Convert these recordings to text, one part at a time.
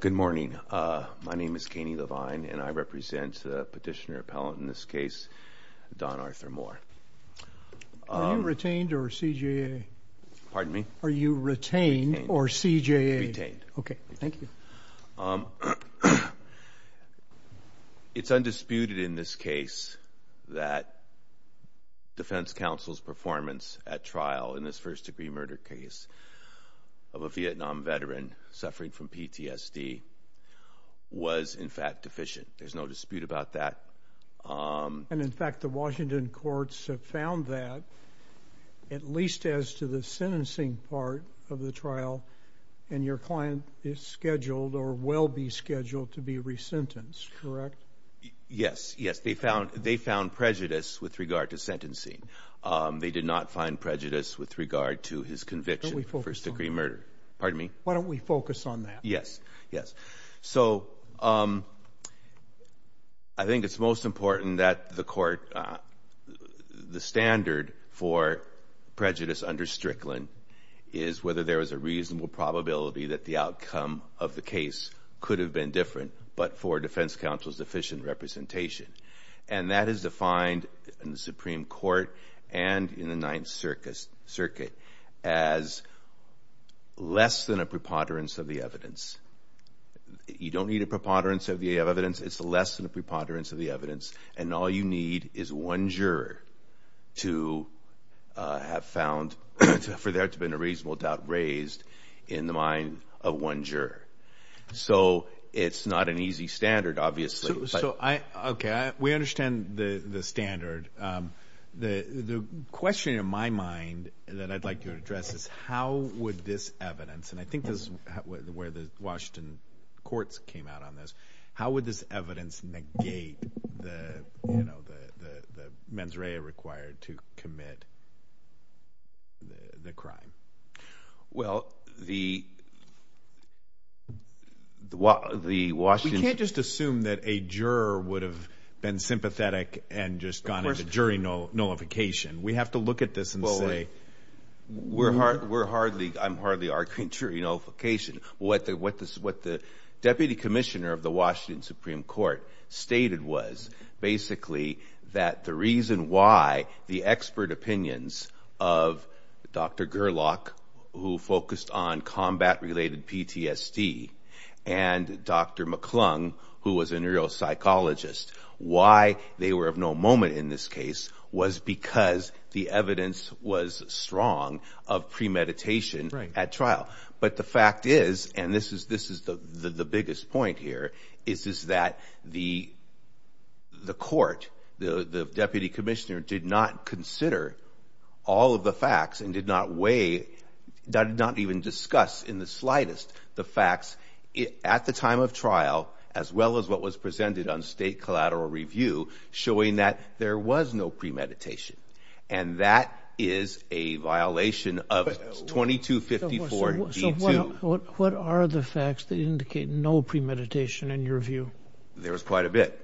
Good morning. My name is Kanye Levine and I represent Petitioner Appellant in this case, Don Arthur Moore. Are you retained or CJA? Pardon me? Are you retained or CJA? Retained. Okay, thank you. It's undisputed in this case that defense counsel's performance at trial in this first-degree murder case of a Vietnam veteran suffering from PTSD was in fact deficient. There's no dispute about that. And in fact the Washington courts have found that at least as to the sentencing part of the trial and your client is scheduled or will be scheduled to be resentenced, correct? Yes, yes. They found prejudice with regard to sentencing. They did not find prejudice with regard to his conviction for first-degree murder. Why don't we focus on that? Yes, yes. So I think it's most important that the court, the standard for prejudice under Strickland is whether there is a reasonable probability that the outcome of the case could have been different but for defense counsel's sufficient representation. And that is defined in the Supreme Court and in the Ninth Circuit as less than a preponderance of the evidence. You don't need a preponderance of the evidence. It's less than a preponderance of the evidence. And all you need is one juror to have found for there to have been a reasonable doubt raised in the mind of one juror. So it's not an easy standard obviously. So I, okay, we understand the standard. The question in my mind that I'd like to address is how would this evidence, and I think this is where the Washington courts came out on this, how would this evidence negate the mens rea required to commit the crime? Well, the Washington... We can't just assume that a juror would have been sympathetic and just gone into jury nullification. We have to look at this and say... We're hardly, I'm hardly arguing jury nullification. What the Deputy Commissioner of the Washington expert opinions of Dr. Gerlach, who focused on combat-related PTSD, and Dr. McClung, who was a neuropsychologist, why they were of no moment in this case was because the evidence was strong of premeditation at trial. But the fact is, and this is the biggest point here, is that the court, the Deputy Commissioner, did not consider all of the facts and did not weigh, did not even discuss in the slightest the facts at the time of trial, as well as what was presented on state collateral review, showing that there was no premeditation. And that is a violation of 2254. So what are the facts that indicate no premeditation in your view? There was quite a bit.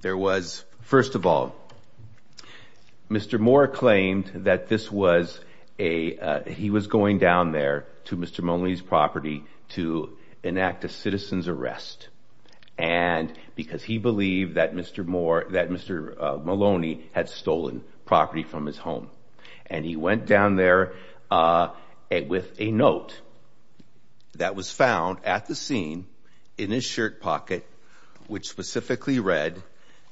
There was, first of all, Mr. Moore claimed that this was a, he was going down there to Mr. Maloney's property to enact a citizen's arrest. And because he believed that Mr. Moore, that Mr. Maloney had stolen property from his home. And he went down there with a note that was found at the scene in his shirt pocket, which specifically read...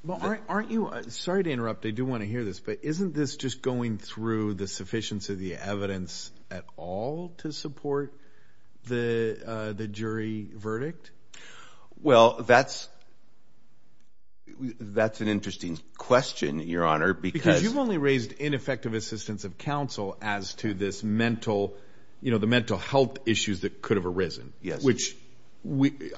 Well, aren't you, sorry to interrupt, I do want to hear this, but isn't this just going through the sufficiency of the evidence at all to support the jury verdict? Well, that's, that's an interesting question, Your Honor, because... Because you've only raised ineffective assistance of counsel as to this mental, you know, the mental health issues that could have arisen, which we,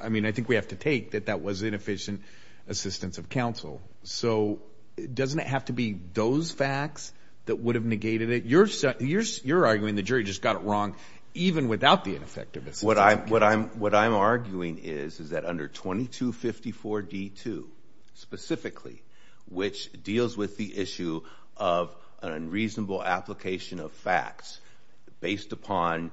I mean, I think we have to take that that was inefficient assistance of counsel. So doesn't it have to be those facts that would have negated it? You're, you're, you're arguing the jury just got it wrong, even without the ineffectiveness. What I'm, what I'm, what I'm arguing is, is that under 2254 D2, specifically, which deals with the issue of an unreasonable application of facts, based upon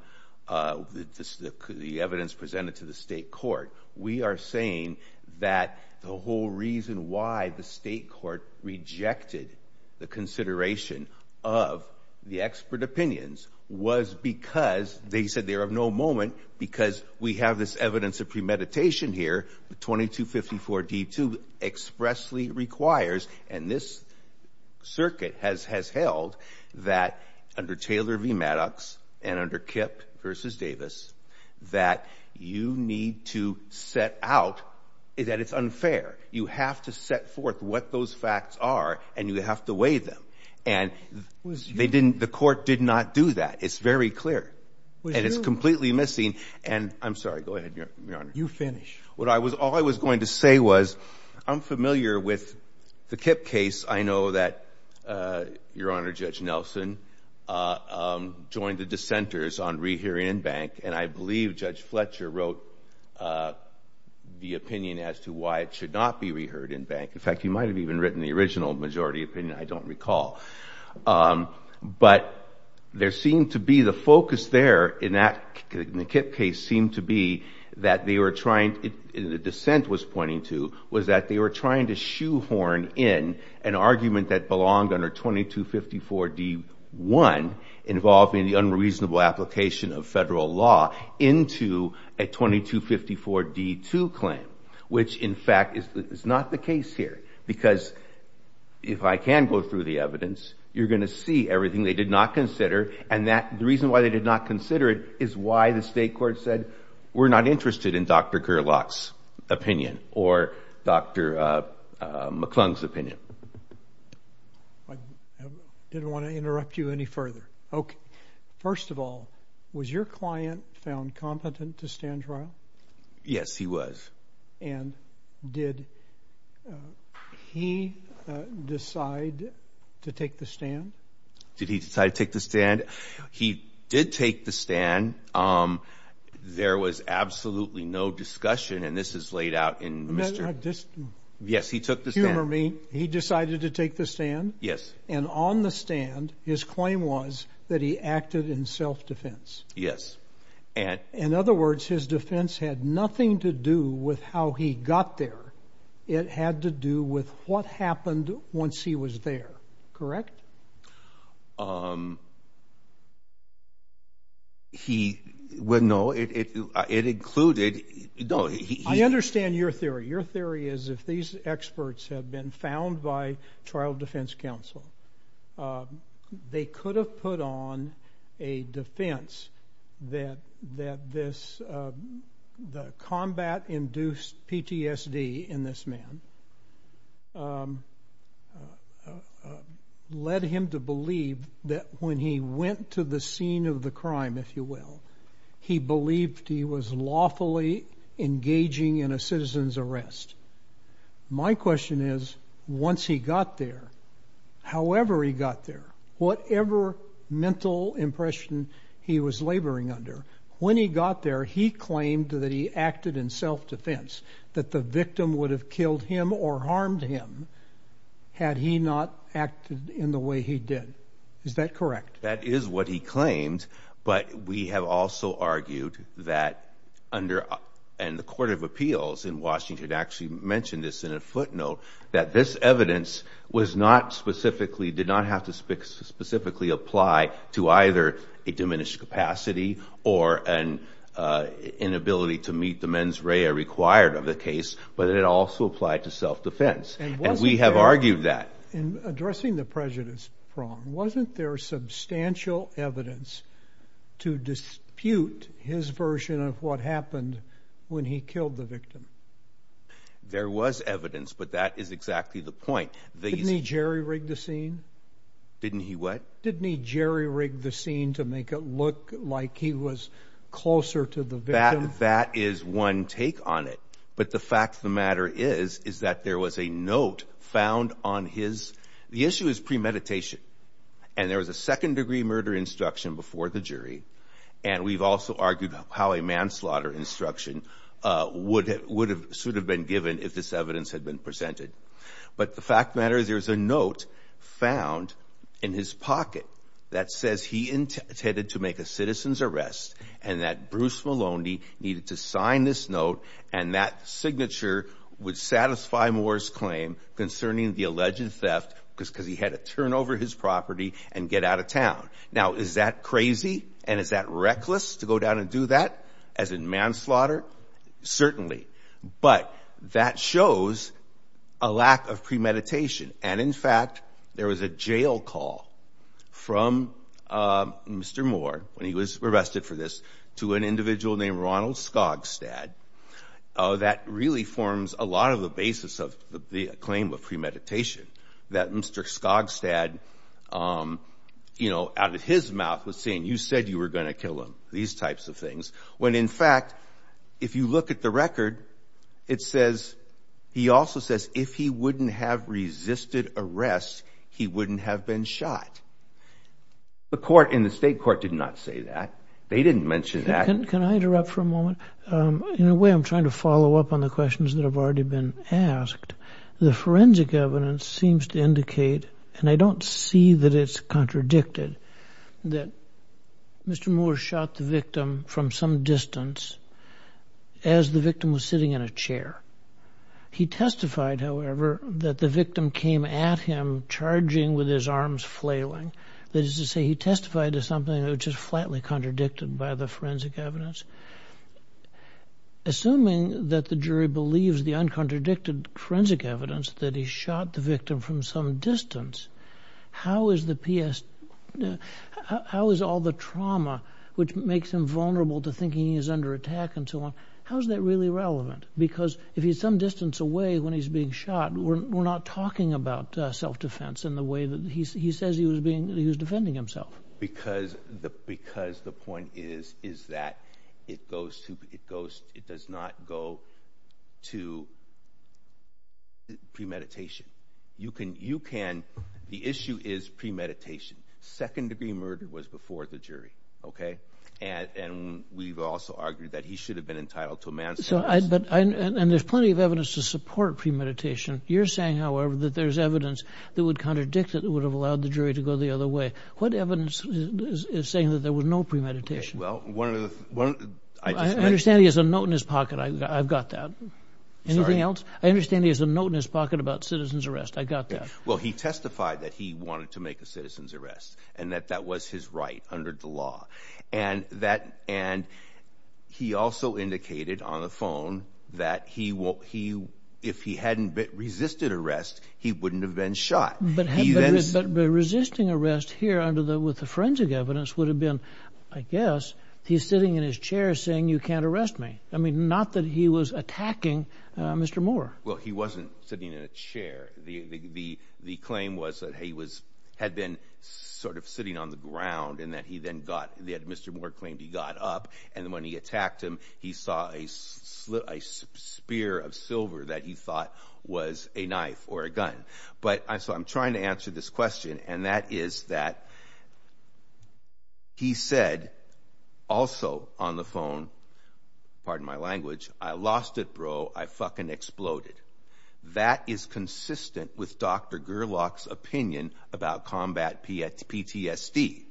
the evidence presented to the state court, we are saying that the whole reason why the state court rejected the consideration of the expert opinions was because they said they are of no moment, because we have this evidence of premeditation here, 2254 D2 expressly requires, and this circuit has, has held, that under Taylor v. Maddox, and under Kip v. Davis, that you need to set out that it's unfair. You have to set forth what those facts are, and you have to weigh them. And they didn't, the court did not do that. It's very clear. And it's completely missing, and I'm sorry, go ahead, Your Honor. You finish. What I was, all I was going to say was, I'm familiar with the Kip case. I know that, Your Honor, Judge Nelson joined the dissenters on rehearing in bank, and I believe Judge Fletcher wrote the opinion as to why it should not be reheard in bank. In fact, he might have even written the original majority opinion, I don't recall. But there seemed to be the focus there, in that, in the Kip case, seemed to be that they were trying, the dissent was pointing to, was that they were trying to shoehorn in an argument that belonged under 2254 D1, involving the unreasonable application of federal law, into a 2254 D2 claim. Which, in fact, is not the case here. Because, if I can go through the evidence, you're going to see everything they did not consider, and that, the reason why they did not consider it, is why the state court said, we're not interested in Dr. Gerlach's opinion, or Dr. McClung's opinion. I didn't want to interrupt you any further. Okay. First of all, was your client found competent to stand trial? Yes, he was. And did he decide to take the stand? Did he decide to take the stand? He did take the stand. There was absolutely no discussion, and this is laid out in Mr. Yes, he took the stand. Humor me, he decided to take the stand? Yes. And on the stand, his claim was that he acted in self-defense? Yes. In other words, his defense had nothing to do with how he got there. It had to do with what happened once he was there. Correct? He, well, no, it included, no, he... I understand your theory. Your theory is if these experts had been found by trial defense counsel, they could have put on a defense that this, the combat-induced PTSD in this man led him to believe that when he went to the scene of the crime, if you will, he believed he was lawfully engaging in a citizen's arrest. My question is, once he got there, however he got there, whatever mental impression he was laboring under, when he got there, he claimed that he acted in self-defense, that the victim would have killed him or harmed him had he not acted in the way he did. Is that correct? That is what he claimed, but we have also argued that under, and the Court of Appeals in Washington actually mentioned this in a footnote, that this evidence was not specifically, did not have to specifically apply to either a diminished capacity or an inability to meet the mens rea required of the case, but it also applied to self-defense. And we have argued that. In addressing the prejudice prong, wasn't there substantial evidence to dispute his version of what happened when he killed the victim? There was evidence, but that is exactly the point. Didn't he jerry-rig the scene? Didn't he what? Didn't he jerry-rig the scene to make it look like he was closer to the victim? That is one take on it, but the fact of the matter is, is that there was a note found on his, the issue is premeditation, and there was a second-degree murder instruction before the jury, and we've also argued how a manslaughter instruction would have, should have been given if this evidence had been presented. But the fact of the matter is there's a note found in his pocket that says he intended to make a citizen's arrest and that Bruce Maloney needed to sign this note and that signature would satisfy Moore's claim concerning the alleged theft because he had to turn over his property and get out of town. Now, is that crazy and is that reckless to go down and do that, as in manslaughter? Certainly, but that shows a lack of premeditation, and in fact, there was a jail call from Mr. Moore when he was arrested for this to an individual named Ronald Skogstad that really forms a lot of the basis of the claim of premeditation, that Mr. Skogstad, you know, out of his mouth was saying, you said you were going to kill him, these types of things, when in fact, if you look at the record, it says, he also says if he wouldn't have resisted arrest, he wouldn't have been shot. The court in the state court did not say that. They didn't mention that. Can I interrupt for a moment? In a way, I'm trying to follow up on the questions that have already been asked. The forensic evidence seems to indicate, and I don't see that it's contradicted, that Mr. Moore shot the victim from some distance as the victim was sitting in a chair. He testified, however, that the victim came at him, charging with his arms flailing. That is to say, he testified to something that was just flatly contradicted by the forensic evidence. Assuming that the jury believes the uncontradicted forensic evidence that he shot the victim from some distance, how is all the trauma, which makes him vulnerable to thinking he's under attack and so on, how is that really relevant? Because if he's some distance away when he's being shot, we're not talking about self-defense in the way that he says he was defending himself. Because the point is that it does not go to premeditation. The issue is premeditation. Second-degree murder was before the jury. And we've also argued that he should have been entitled to a manslaughter. And there's plenty of evidence to support premeditation. You're saying, however, that there's evidence that would contradict it that would have allowed the jury to go the other way. What evidence is saying that there was no premeditation? I understand there's a note in his pocket. I've got that. Anything else? I understand there's a note in his pocket about citizen's arrest. I've got that. Well, he testified that he wanted to make a citizen's arrest and that that was his right under the law. And he also indicated on the phone that if he hadn't resisted arrest, he wouldn't have been shot. But resisting arrest here with the forensic evidence would have been, I guess, he's sitting in his chair saying, you can't arrest me. I mean, not that he was attacking Mr. Moore. Well, he wasn't sitting in a chair. The claim was that he had been sort of sitting on the ground and that he then got Mr. Moore claimed he got up. And when he attacked him, he saw a spear of silver that he thought was a knife or a gun. So I'm trying to answer this question, and that is that he said also on the phone, pardon my language, I lost it, bro. I fucking exploded. That is consistent with Dr. Gerlach's opinion about combat PTSD.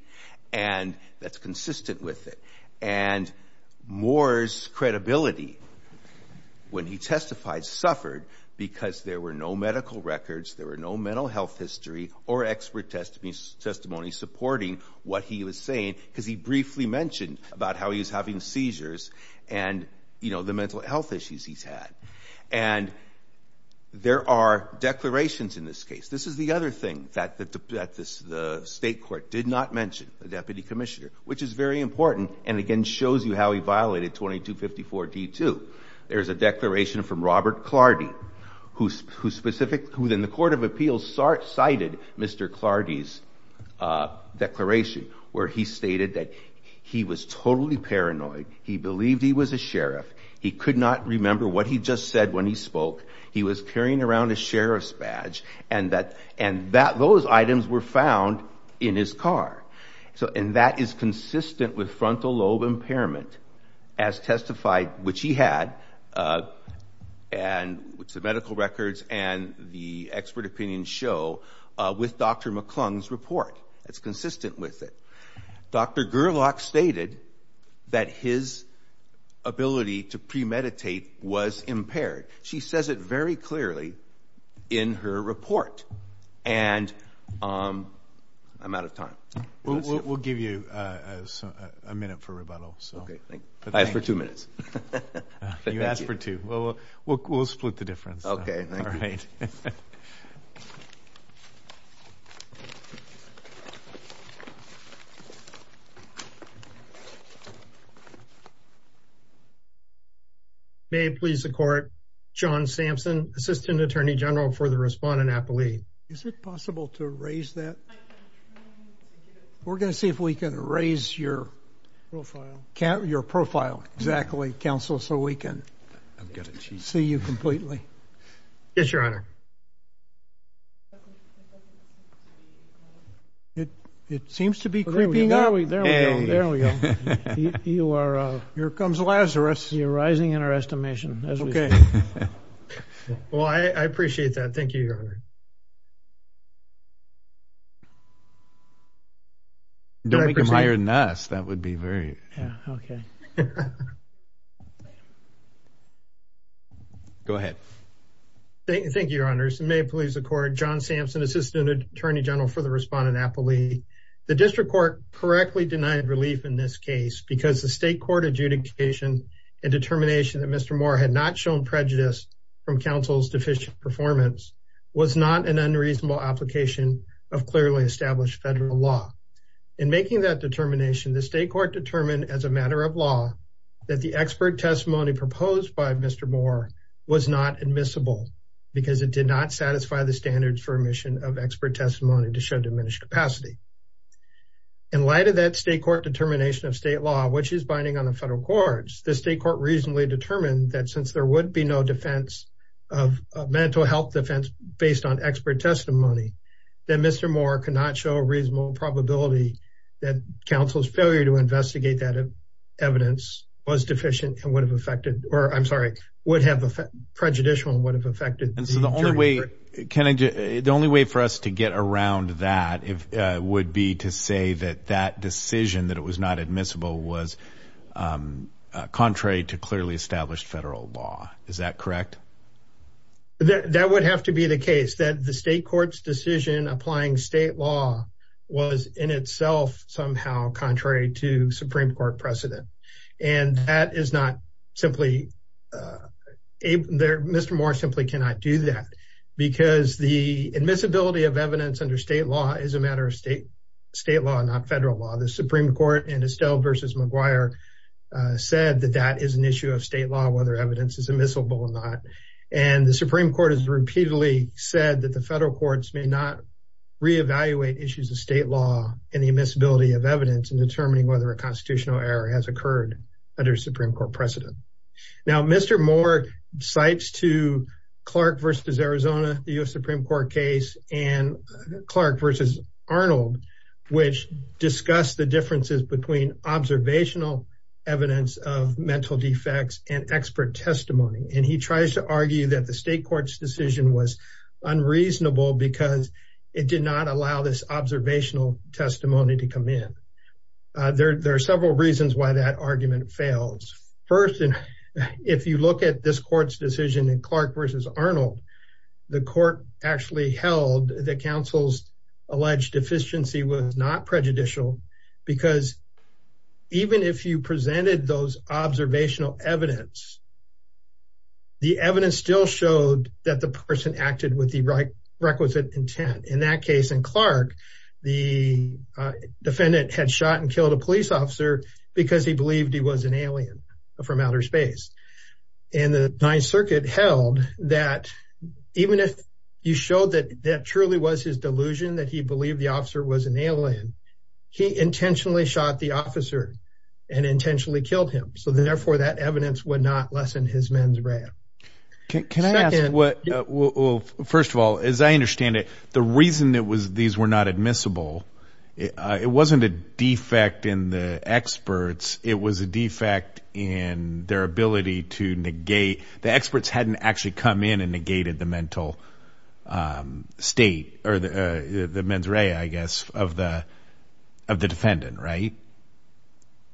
And that's consistent with it. And Moore's credibility when he testified suffered because there were no medical records. There were no mental health history or expert testimony supporting what he was saying because he briefly mentioned about how he was having seizures and, you know, the mental health issues he's had. And there are declarations in this case. This is the other thing that the state court did not mention, the deputy commissioner, which is very important and, again, shows you how he violated 2254 D2. There's a declaration from Robert Clardy, who in the court of appeals cited Mr. Clardy's declaration where he stated that he was totally paranoid. He believed he was a sheriff. He could not remember what he just said when he spoke. He was carrying around a sheriff's badge, and those items were found in his car. And that is consistent with frontal lobe impairment, as testified, which he had, and the medical records and the expert opinion show, with Dr. McClung's report. It's consistent with it. Dr. Gerlach stated that his ability to premeditate was impaired. She says it very clearly in her report. And I'm out of time. That's it. We'll give you a minute for rebuttal. Okay, thank you. I asked for two minutes. You asked for two. We'll split the difference. Okay, thank you. All right. All right. May it please the court, John Sampson, assistant attorney general for the respondent appellee. Is it possible to raise that? We're going to see if we can raise your profile. Exactly, counsel, so we can see you completely. Yes, your honor. It seems to be creeping up. There we go. There we go. Here comes Lazarus. You're rising in our estimation, as we speak. Well, I appreciate that. Thank you, your honor. Don't make him higher than us. That would be very � Yeah, okay. Go ahead. Thank you, your honors. May it please the court, John Sampson, assistant attorney general for the respondent appellee. The district court correctly denied relief in this case because the state court adjudication and determination that Mr. Moore had not shown prejudice from counsel's deficient performance was not an unreasonable application of clearly established federal law. In making that determination, the state court determined as a matter of law that the expert testimony proposed by Mr. Moore was not admissible because it did not satisfy the standards for admission of expert testimony to show diminished capacity. In light of that state court determination of state law, which is binding on the federal courts, the state court reasonably determined that since there would be no defense of mental health based on expert testimony, that Mr. Moore could not show a reasonable probability that counsel's failure to investigate that evidence was deficient and would have affected or, I'm sorry, would have prejudicial and would have affected the jury. So the only way for us to get around that would be to say that that decision that it was not admissible was contrary to clearly established federal law. Is that correct? That would have to be the case, that the state court's decision applying state law was in itself somehow contrary to Supreme Court precedent. And that is not simply, Mr. Moore simply cannot do that because the admissibility of evidence under state law is a matter of state law, not federal law. The Supreme Court in Estelle v. McGuire said that that is an issue of state law whether evidence is admissible or not. And the Supreme Court has repeatedly said that the federal courts may not reevaluate issues of state law and the admissibility of evidence in determining whether a constitutional error has occurred under Supreme Court precedent. Now, Mr. Moore cites two Clark v. Arizona, the U.S. Supreme Court case, and Clark v. Arnold, which discuss the differences between observational evidence of mental defects and expert testimony. And he tries to argue that the state court's decision was unreasonable because it did not allow this observational testimony to come in. There are several reasons why that argument fails. First, if you look at this court's decision in Clark v. Arnold, the court actually held that counsel's alleged deficiency was not prejudicial because even if you presented those observational evidence, the evidence still showed that the person acted with the requisite intent. In that case, in Clark, the defendant had shot and killed a police officer because he believed he was an alien from outer space. And the Ninth Circuit held that even if you showed that that truly was his delusion, that evidence would not lessen his mens rea. Can I ask, first of all, as I understand it, the reason that these were not admissible, it wasn't a defect in the experts. It was a defect in their ability to negate. The experts hadn't actually come in and negated the mental state or the mens rea, I guess, of the defendant, right?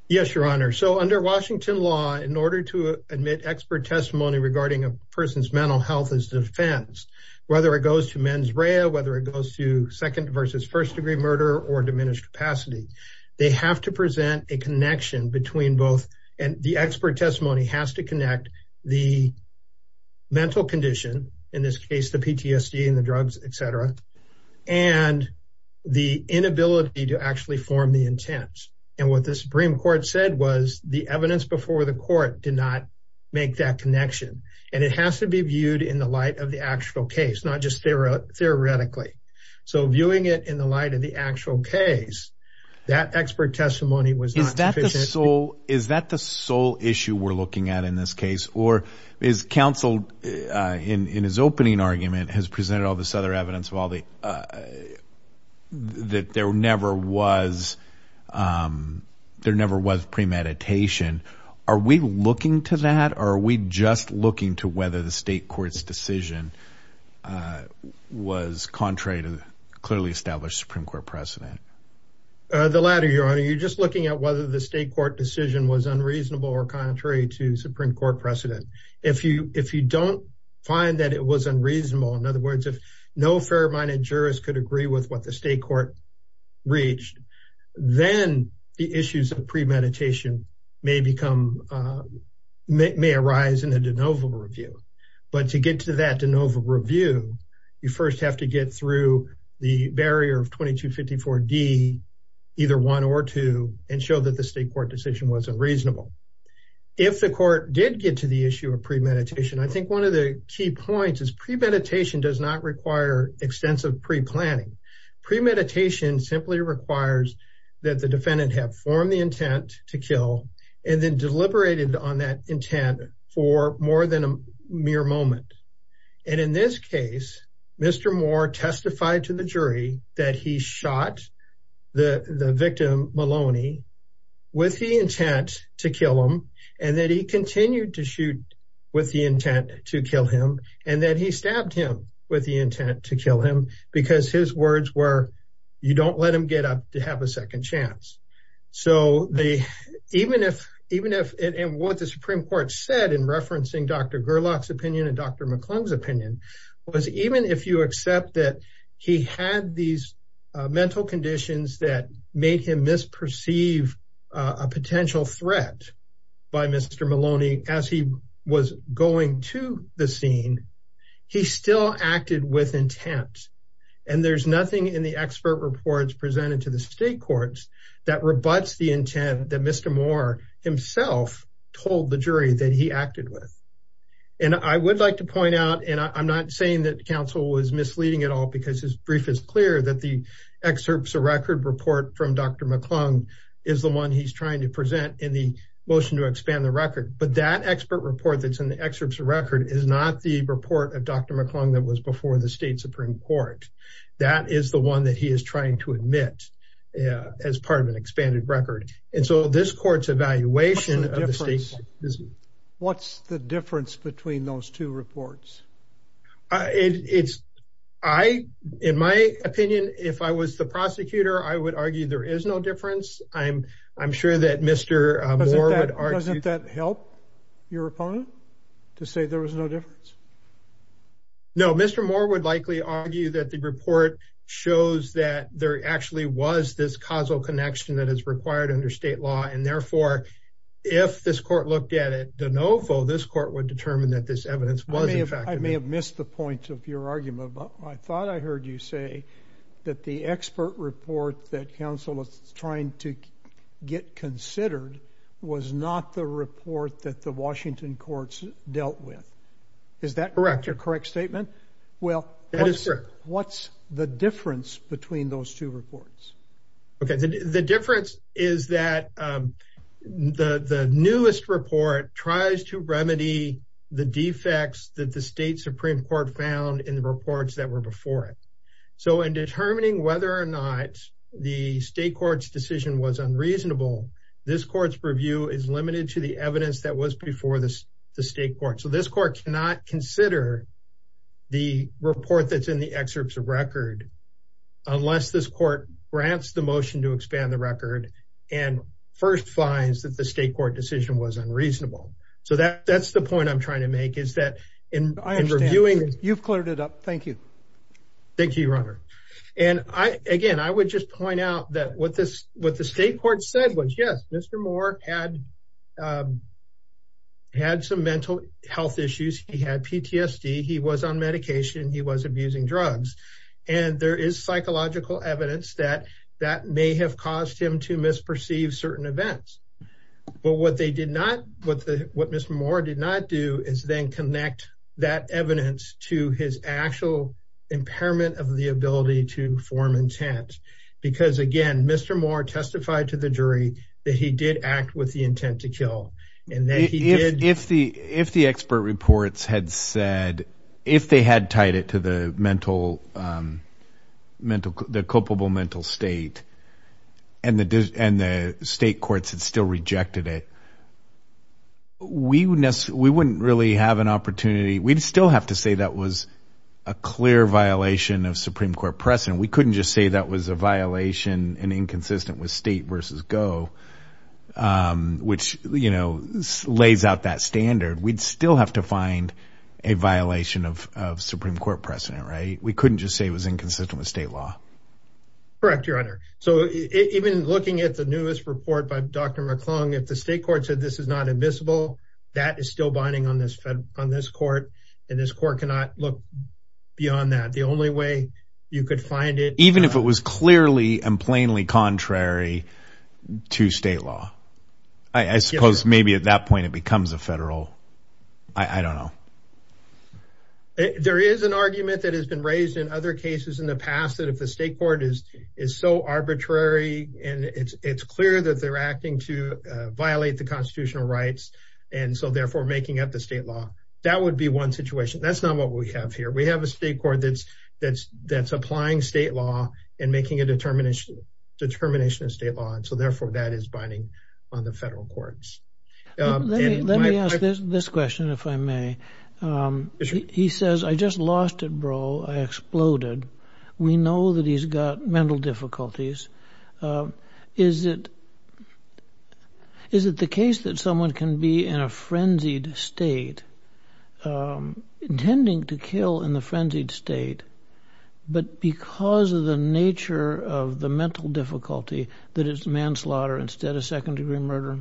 Yes, Your Honor. So under Washington law, in order to admit expert testimony regarding a person's mental health as defense, whether it goes to mens rea, whether it goes to second versus first degree murder or diminished capacity, they have to present a connection between both. And the expert testimony has to connect the mental condition, in this case, the PTSD and the drugs, et cetera, and the inability to actually form the intent. And what the Supreme Court said was the evidence before the court did not make that connection. And it has to be viewed in the light of the actual case, not just theoretically. So viewing it in the light of the actual case, that expert testimony was not sufficient. Is that the sole issue we're looking at in this case? Or is counsel, in his opening argument, has presented all this other evidence that there never was premeditation. Are we looking to that? Or are we just looking to whether the state court's decision was contrary to clearly established Supreme Court precedent? The latter, Your Honor. You're just looking at whether the state court decision was unreasonable or contrary to Supreme Court precedent. If you don't find that it was unreasonable, in other words, if no fair-minded jurist could agree with what the state court reached, then the issues of premeditation may arise in a de novo review. But to get to that de novo review, you first have to get through the barrier of 2254D, either one or two, and show that the state court decision was unreasonable. If the court did get to the issue of premeditation, I think one of the key points is premeditation does not require extensive preplanning. Premeditation simply requires that the defendant have formed the intent to kill, and then deliberated on that intent for more than a mere moment. And in this case, Mr. Moore testified to the jury that he shot the victim, Maloney, with the intent to kill him, and that he continued to shoot with the intent to kill him, and that he stabbed him with the intent to kill him, because his words were, you don't let him get up to have a second chance. So, even if, and what the Supreme Court said in referencing Dr. Gerlach's opinion and Dr. McClung's opinion, was even if you accept that he had these mental conditions that made him misperceive a potential threat by Mr. Maloney as he was going to the scene, he still acted with intent. And there's nothing in the expert reports presented to the state courts that rebuts the intent that Mr. Moore himself told the jury that he acted with. And I would like to point out, and I'm not saying that counsel was misleading at all, because his brief is clear that the excerpts of record report from Dr. McClung is the one he's trying to present in the motion to expand the record. But that expert report that's in the excerpts of record is not the report of Dr. McClung that was before the state Supreme Court. That is the one that he is trying to admit as part of an expanded record. And so, this court's evaluation of the state... What's the difference between those two reports? It's... I, in my opinion, if I was the prosecutor, I would argue there is no difference. I'm sure that Mr. Moore would argue... Doesn't that help your opponent to say there was no difference? No, Mr. Moore would likely argue that the report shows that there actually was this causal connection that is required under state law. And therefore, if this court looked at it de novo, this court would determine that this is not the case. I may have missed the point of your argument, but I thought I heard you say that the expert report that counsel is trying to get considered was not the report that the Washington courts dealt with. Is that correct? Correct. A correct statement? Well... That is correct. What's the difference between those two reports? The difference is that the newest report tries to remedy the defects that the state Supreme Court found in the reports that were before it. So, in determining whether or not the state court's decision was unreasonable, this court's review is limited to the evidence that was before the state court. So, this court cannot consider the report that's in the excerpts of record unless this court grants the motion to expand the record and first finds that the state court decision was unreasonable. So, that's the point I'm trying to make is that in reviewing... I understand. You've cleared it up. Thank you. Thank you, Your Honor. And again, I would just point out that what the state court said was, yes, Mr. Moore had some mental health issues. He had PTSD. He was on medication. He was abusing drugs. And there is psychological evidence that that may have caused him to misperceive certain events. But what they did not... What Mr. Moore did not do is then connect that evidence to his actual impairment of the ability to form intent. Because again, Mr. Moore testified to the jury that he did act with the intent to kill and that he did... If the expert reports had said... If they had tied it to the culpable mental state and the state courts had still rejected it, we wouldn't really have an opportunity... We'd still have to say that was a clear violation of Supreme Court precedent. We couldn't just say that was a violation and inconsistent with state versus go, which lays out that standard. We'd still have to find a violation of Supreme Court precedent, right? We couldn't just say it was inconsistent with state law. Correct, Your Honor. So even looking at the newest report by Dr. McClung, if the state court said this is not admissible, that is still binding on this court. And this court cannot look beyond that. The only way you could find it... Even if it was clearly and plainly contrary to state law, I suppose maybe at that point it becomes a federal... I don't know. There is an argument that has been raised in other cases in the past that if the state court is so arbitrary and it's clear that they're acting to violate the constitutional rights and so therefore making up the state law, that would be one situation. That's not what we have here. We have a state court that's applying state law and making a determination of state law and so therefore that is binding on the federal courts. Let me ask this question, if I may. He says, I just lost it, bro. I exploded. We know that he's got mental difficulties. Is it the case that someone can be in a frenzied state, intending to kill in the frenzied state, but because of the nature of the mental difficulty that it's manslaughter instead of second-degree murder?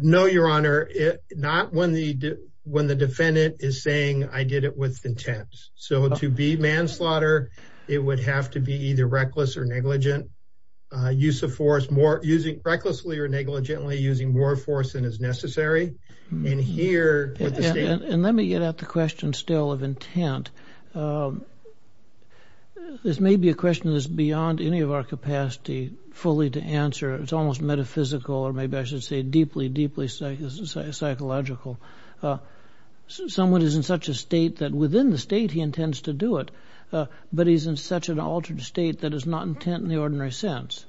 No, Your Honor. Not when the defendant is saying, I did it with intent. So to be manslaughter, it would have to be either reckless or negligent. Recklessly or negligently using more force than is necessary. And here... And let me get at the question still of intent. This may be a question that's beyond any of our capacity fully to answer. It's almost metaphysical or maybe I should say deeply, deeply psychological. Someone is in such a state that within the state he intends to do it, but he's in such an altered state that is not intent in the ordinary sense.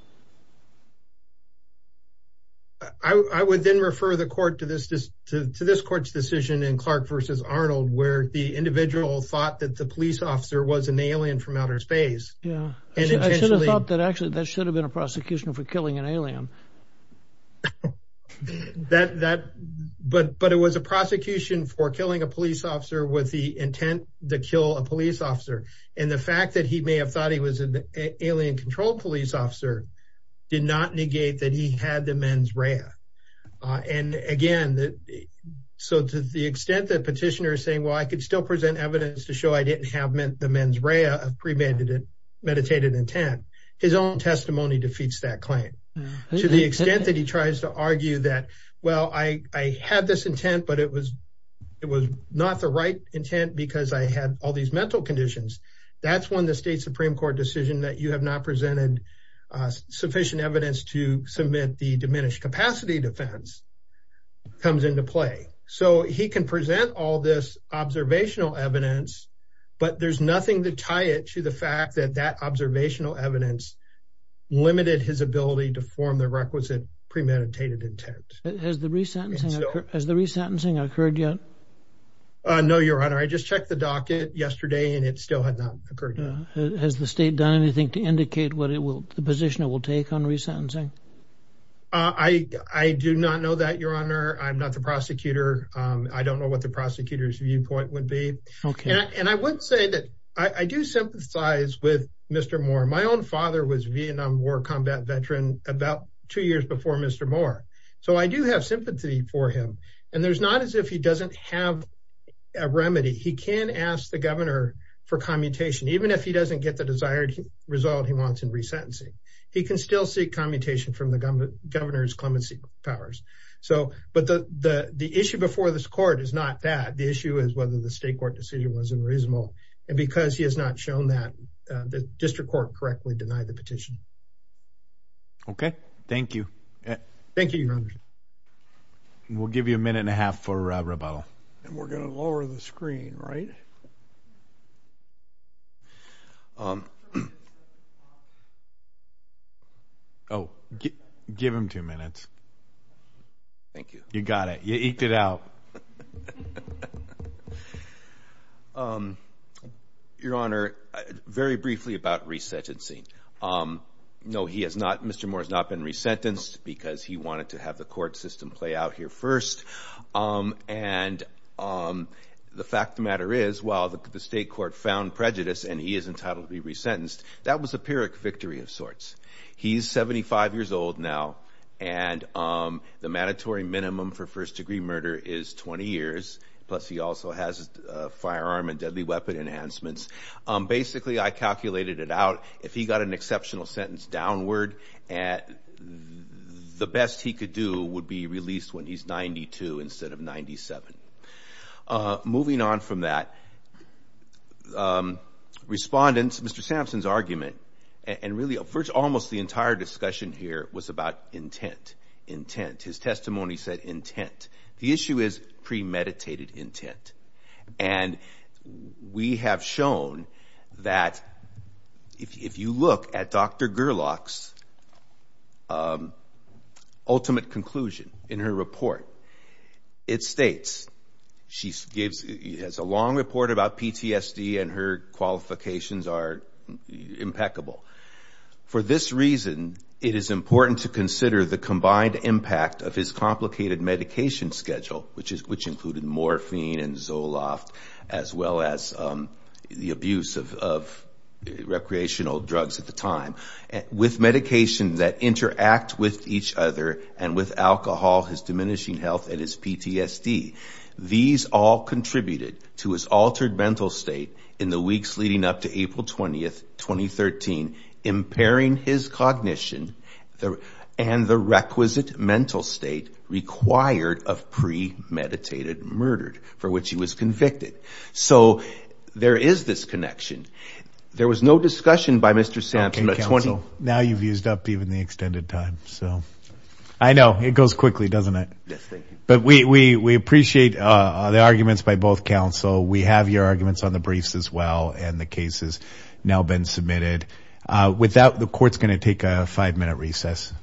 I would then refer the court to this court's decision in Clark v. Arnold where the individual thought that the police officer was an alien from outer space. Yeah. I should have thought that actually that should have been a prosecution for killing an alien. But it was a prosecution for killing a police officer with the intent to kill a police officer. And the fact that he may have thought he was an alien-controlled police officer did not negate that he had the mens rea. And again, so to the extent that petitioner is saying, well, I could still present evidence to show I didn't have the mens rea of premeditated intent, his own testimony defeats that claim. To the extent that he tries to argue that, well, I had this intent, but it was not the right intent because I had all these mental conditions. That's when the state Supreme Court decision that you have not presented sufficient evidence to submit the diminished capacity defense comes into play. So he can present all this observational evidence, but there's nothing to tie it to the fact that that observational evidence limited his ability to form the requisite premeditated intent. Has the resentencing occurred yet? No, Your Honor. I just checked the docket yesterday and it still had not occurred yet. Has the state done anything to indicate what the position it will take on resentencing? I do not know that, Your Honor. I'm not the prosecutor. I don't know what the prosecutor's viewpoint would be. And I would say that I do sympathize with Mr. Moore. My own father was a Vietnam War combat veteran about two years before Mr. Moore. So I do have sympathy for him. And there's not as if he doesn't have a remedy. He can ask the governor for commutation, even if he doesn't get the desired result he wants in resentencing. He can still seek commutation from the governor's clemency powers. But the issue before this court is not that. The issue is whether the state court decision was unreasonable. And because he has not shown that, the district court correctly denied the petition. Okay. Thank you. Thank you, Your Honor. We'll give you a minute and a half for rebuttal. And we're going to lower the screen, right? Oh, give him two minutes. Thank you. You got it. You eked it out. Your Honor, very briefly about resentencing. No, he has not. Mr. Moore has not been resentenced because he wanted to have the court system play out here first. And the fact of the matter is, while the state court found prejudice and he is entitled to be resentenced, that was a pyrrhic victory of sorts. He's 75 years old now. And the mandatory minimum for first-degree murder is 20 years. Plus he also has a firearm and deadly weapon enhancements. Basically, I calculated it out. If he got an exceptional sentence downward, the best he could do would be released when he's 92 instead of 97. Moving on from that, respondents, Mr. Sampson's argument, and really almost the entire discussion here was about intent, intent. His testimony said intent. The issue is premeditated intent. And we have shown that if you look at Dr. Gerlach's ultimate conclusion in her report, it states, she has a long report about PTSD and her qualifications are impeccable. For this reason, it is important to consider the combined impact of his complicated medication schedule, which included morphine and Zoloft, as well as the abuse of recreational drugs at the time, with medication that interact with each other and with alcohol, his diminishing health and his PTSD. These all contributed to his altered mental state in the weeks leading up to of premeditated murder for which he was convicted. So there is this connection. There was no discussion by Mr. Sampson. Now you've used up even the extended time. So I know it goes quickly, doesn't it? But we appreciate the arguments by both counsel. We have your arguments on the briefs as well. And the case has now been submitted. The court is going to take a five-minute recess.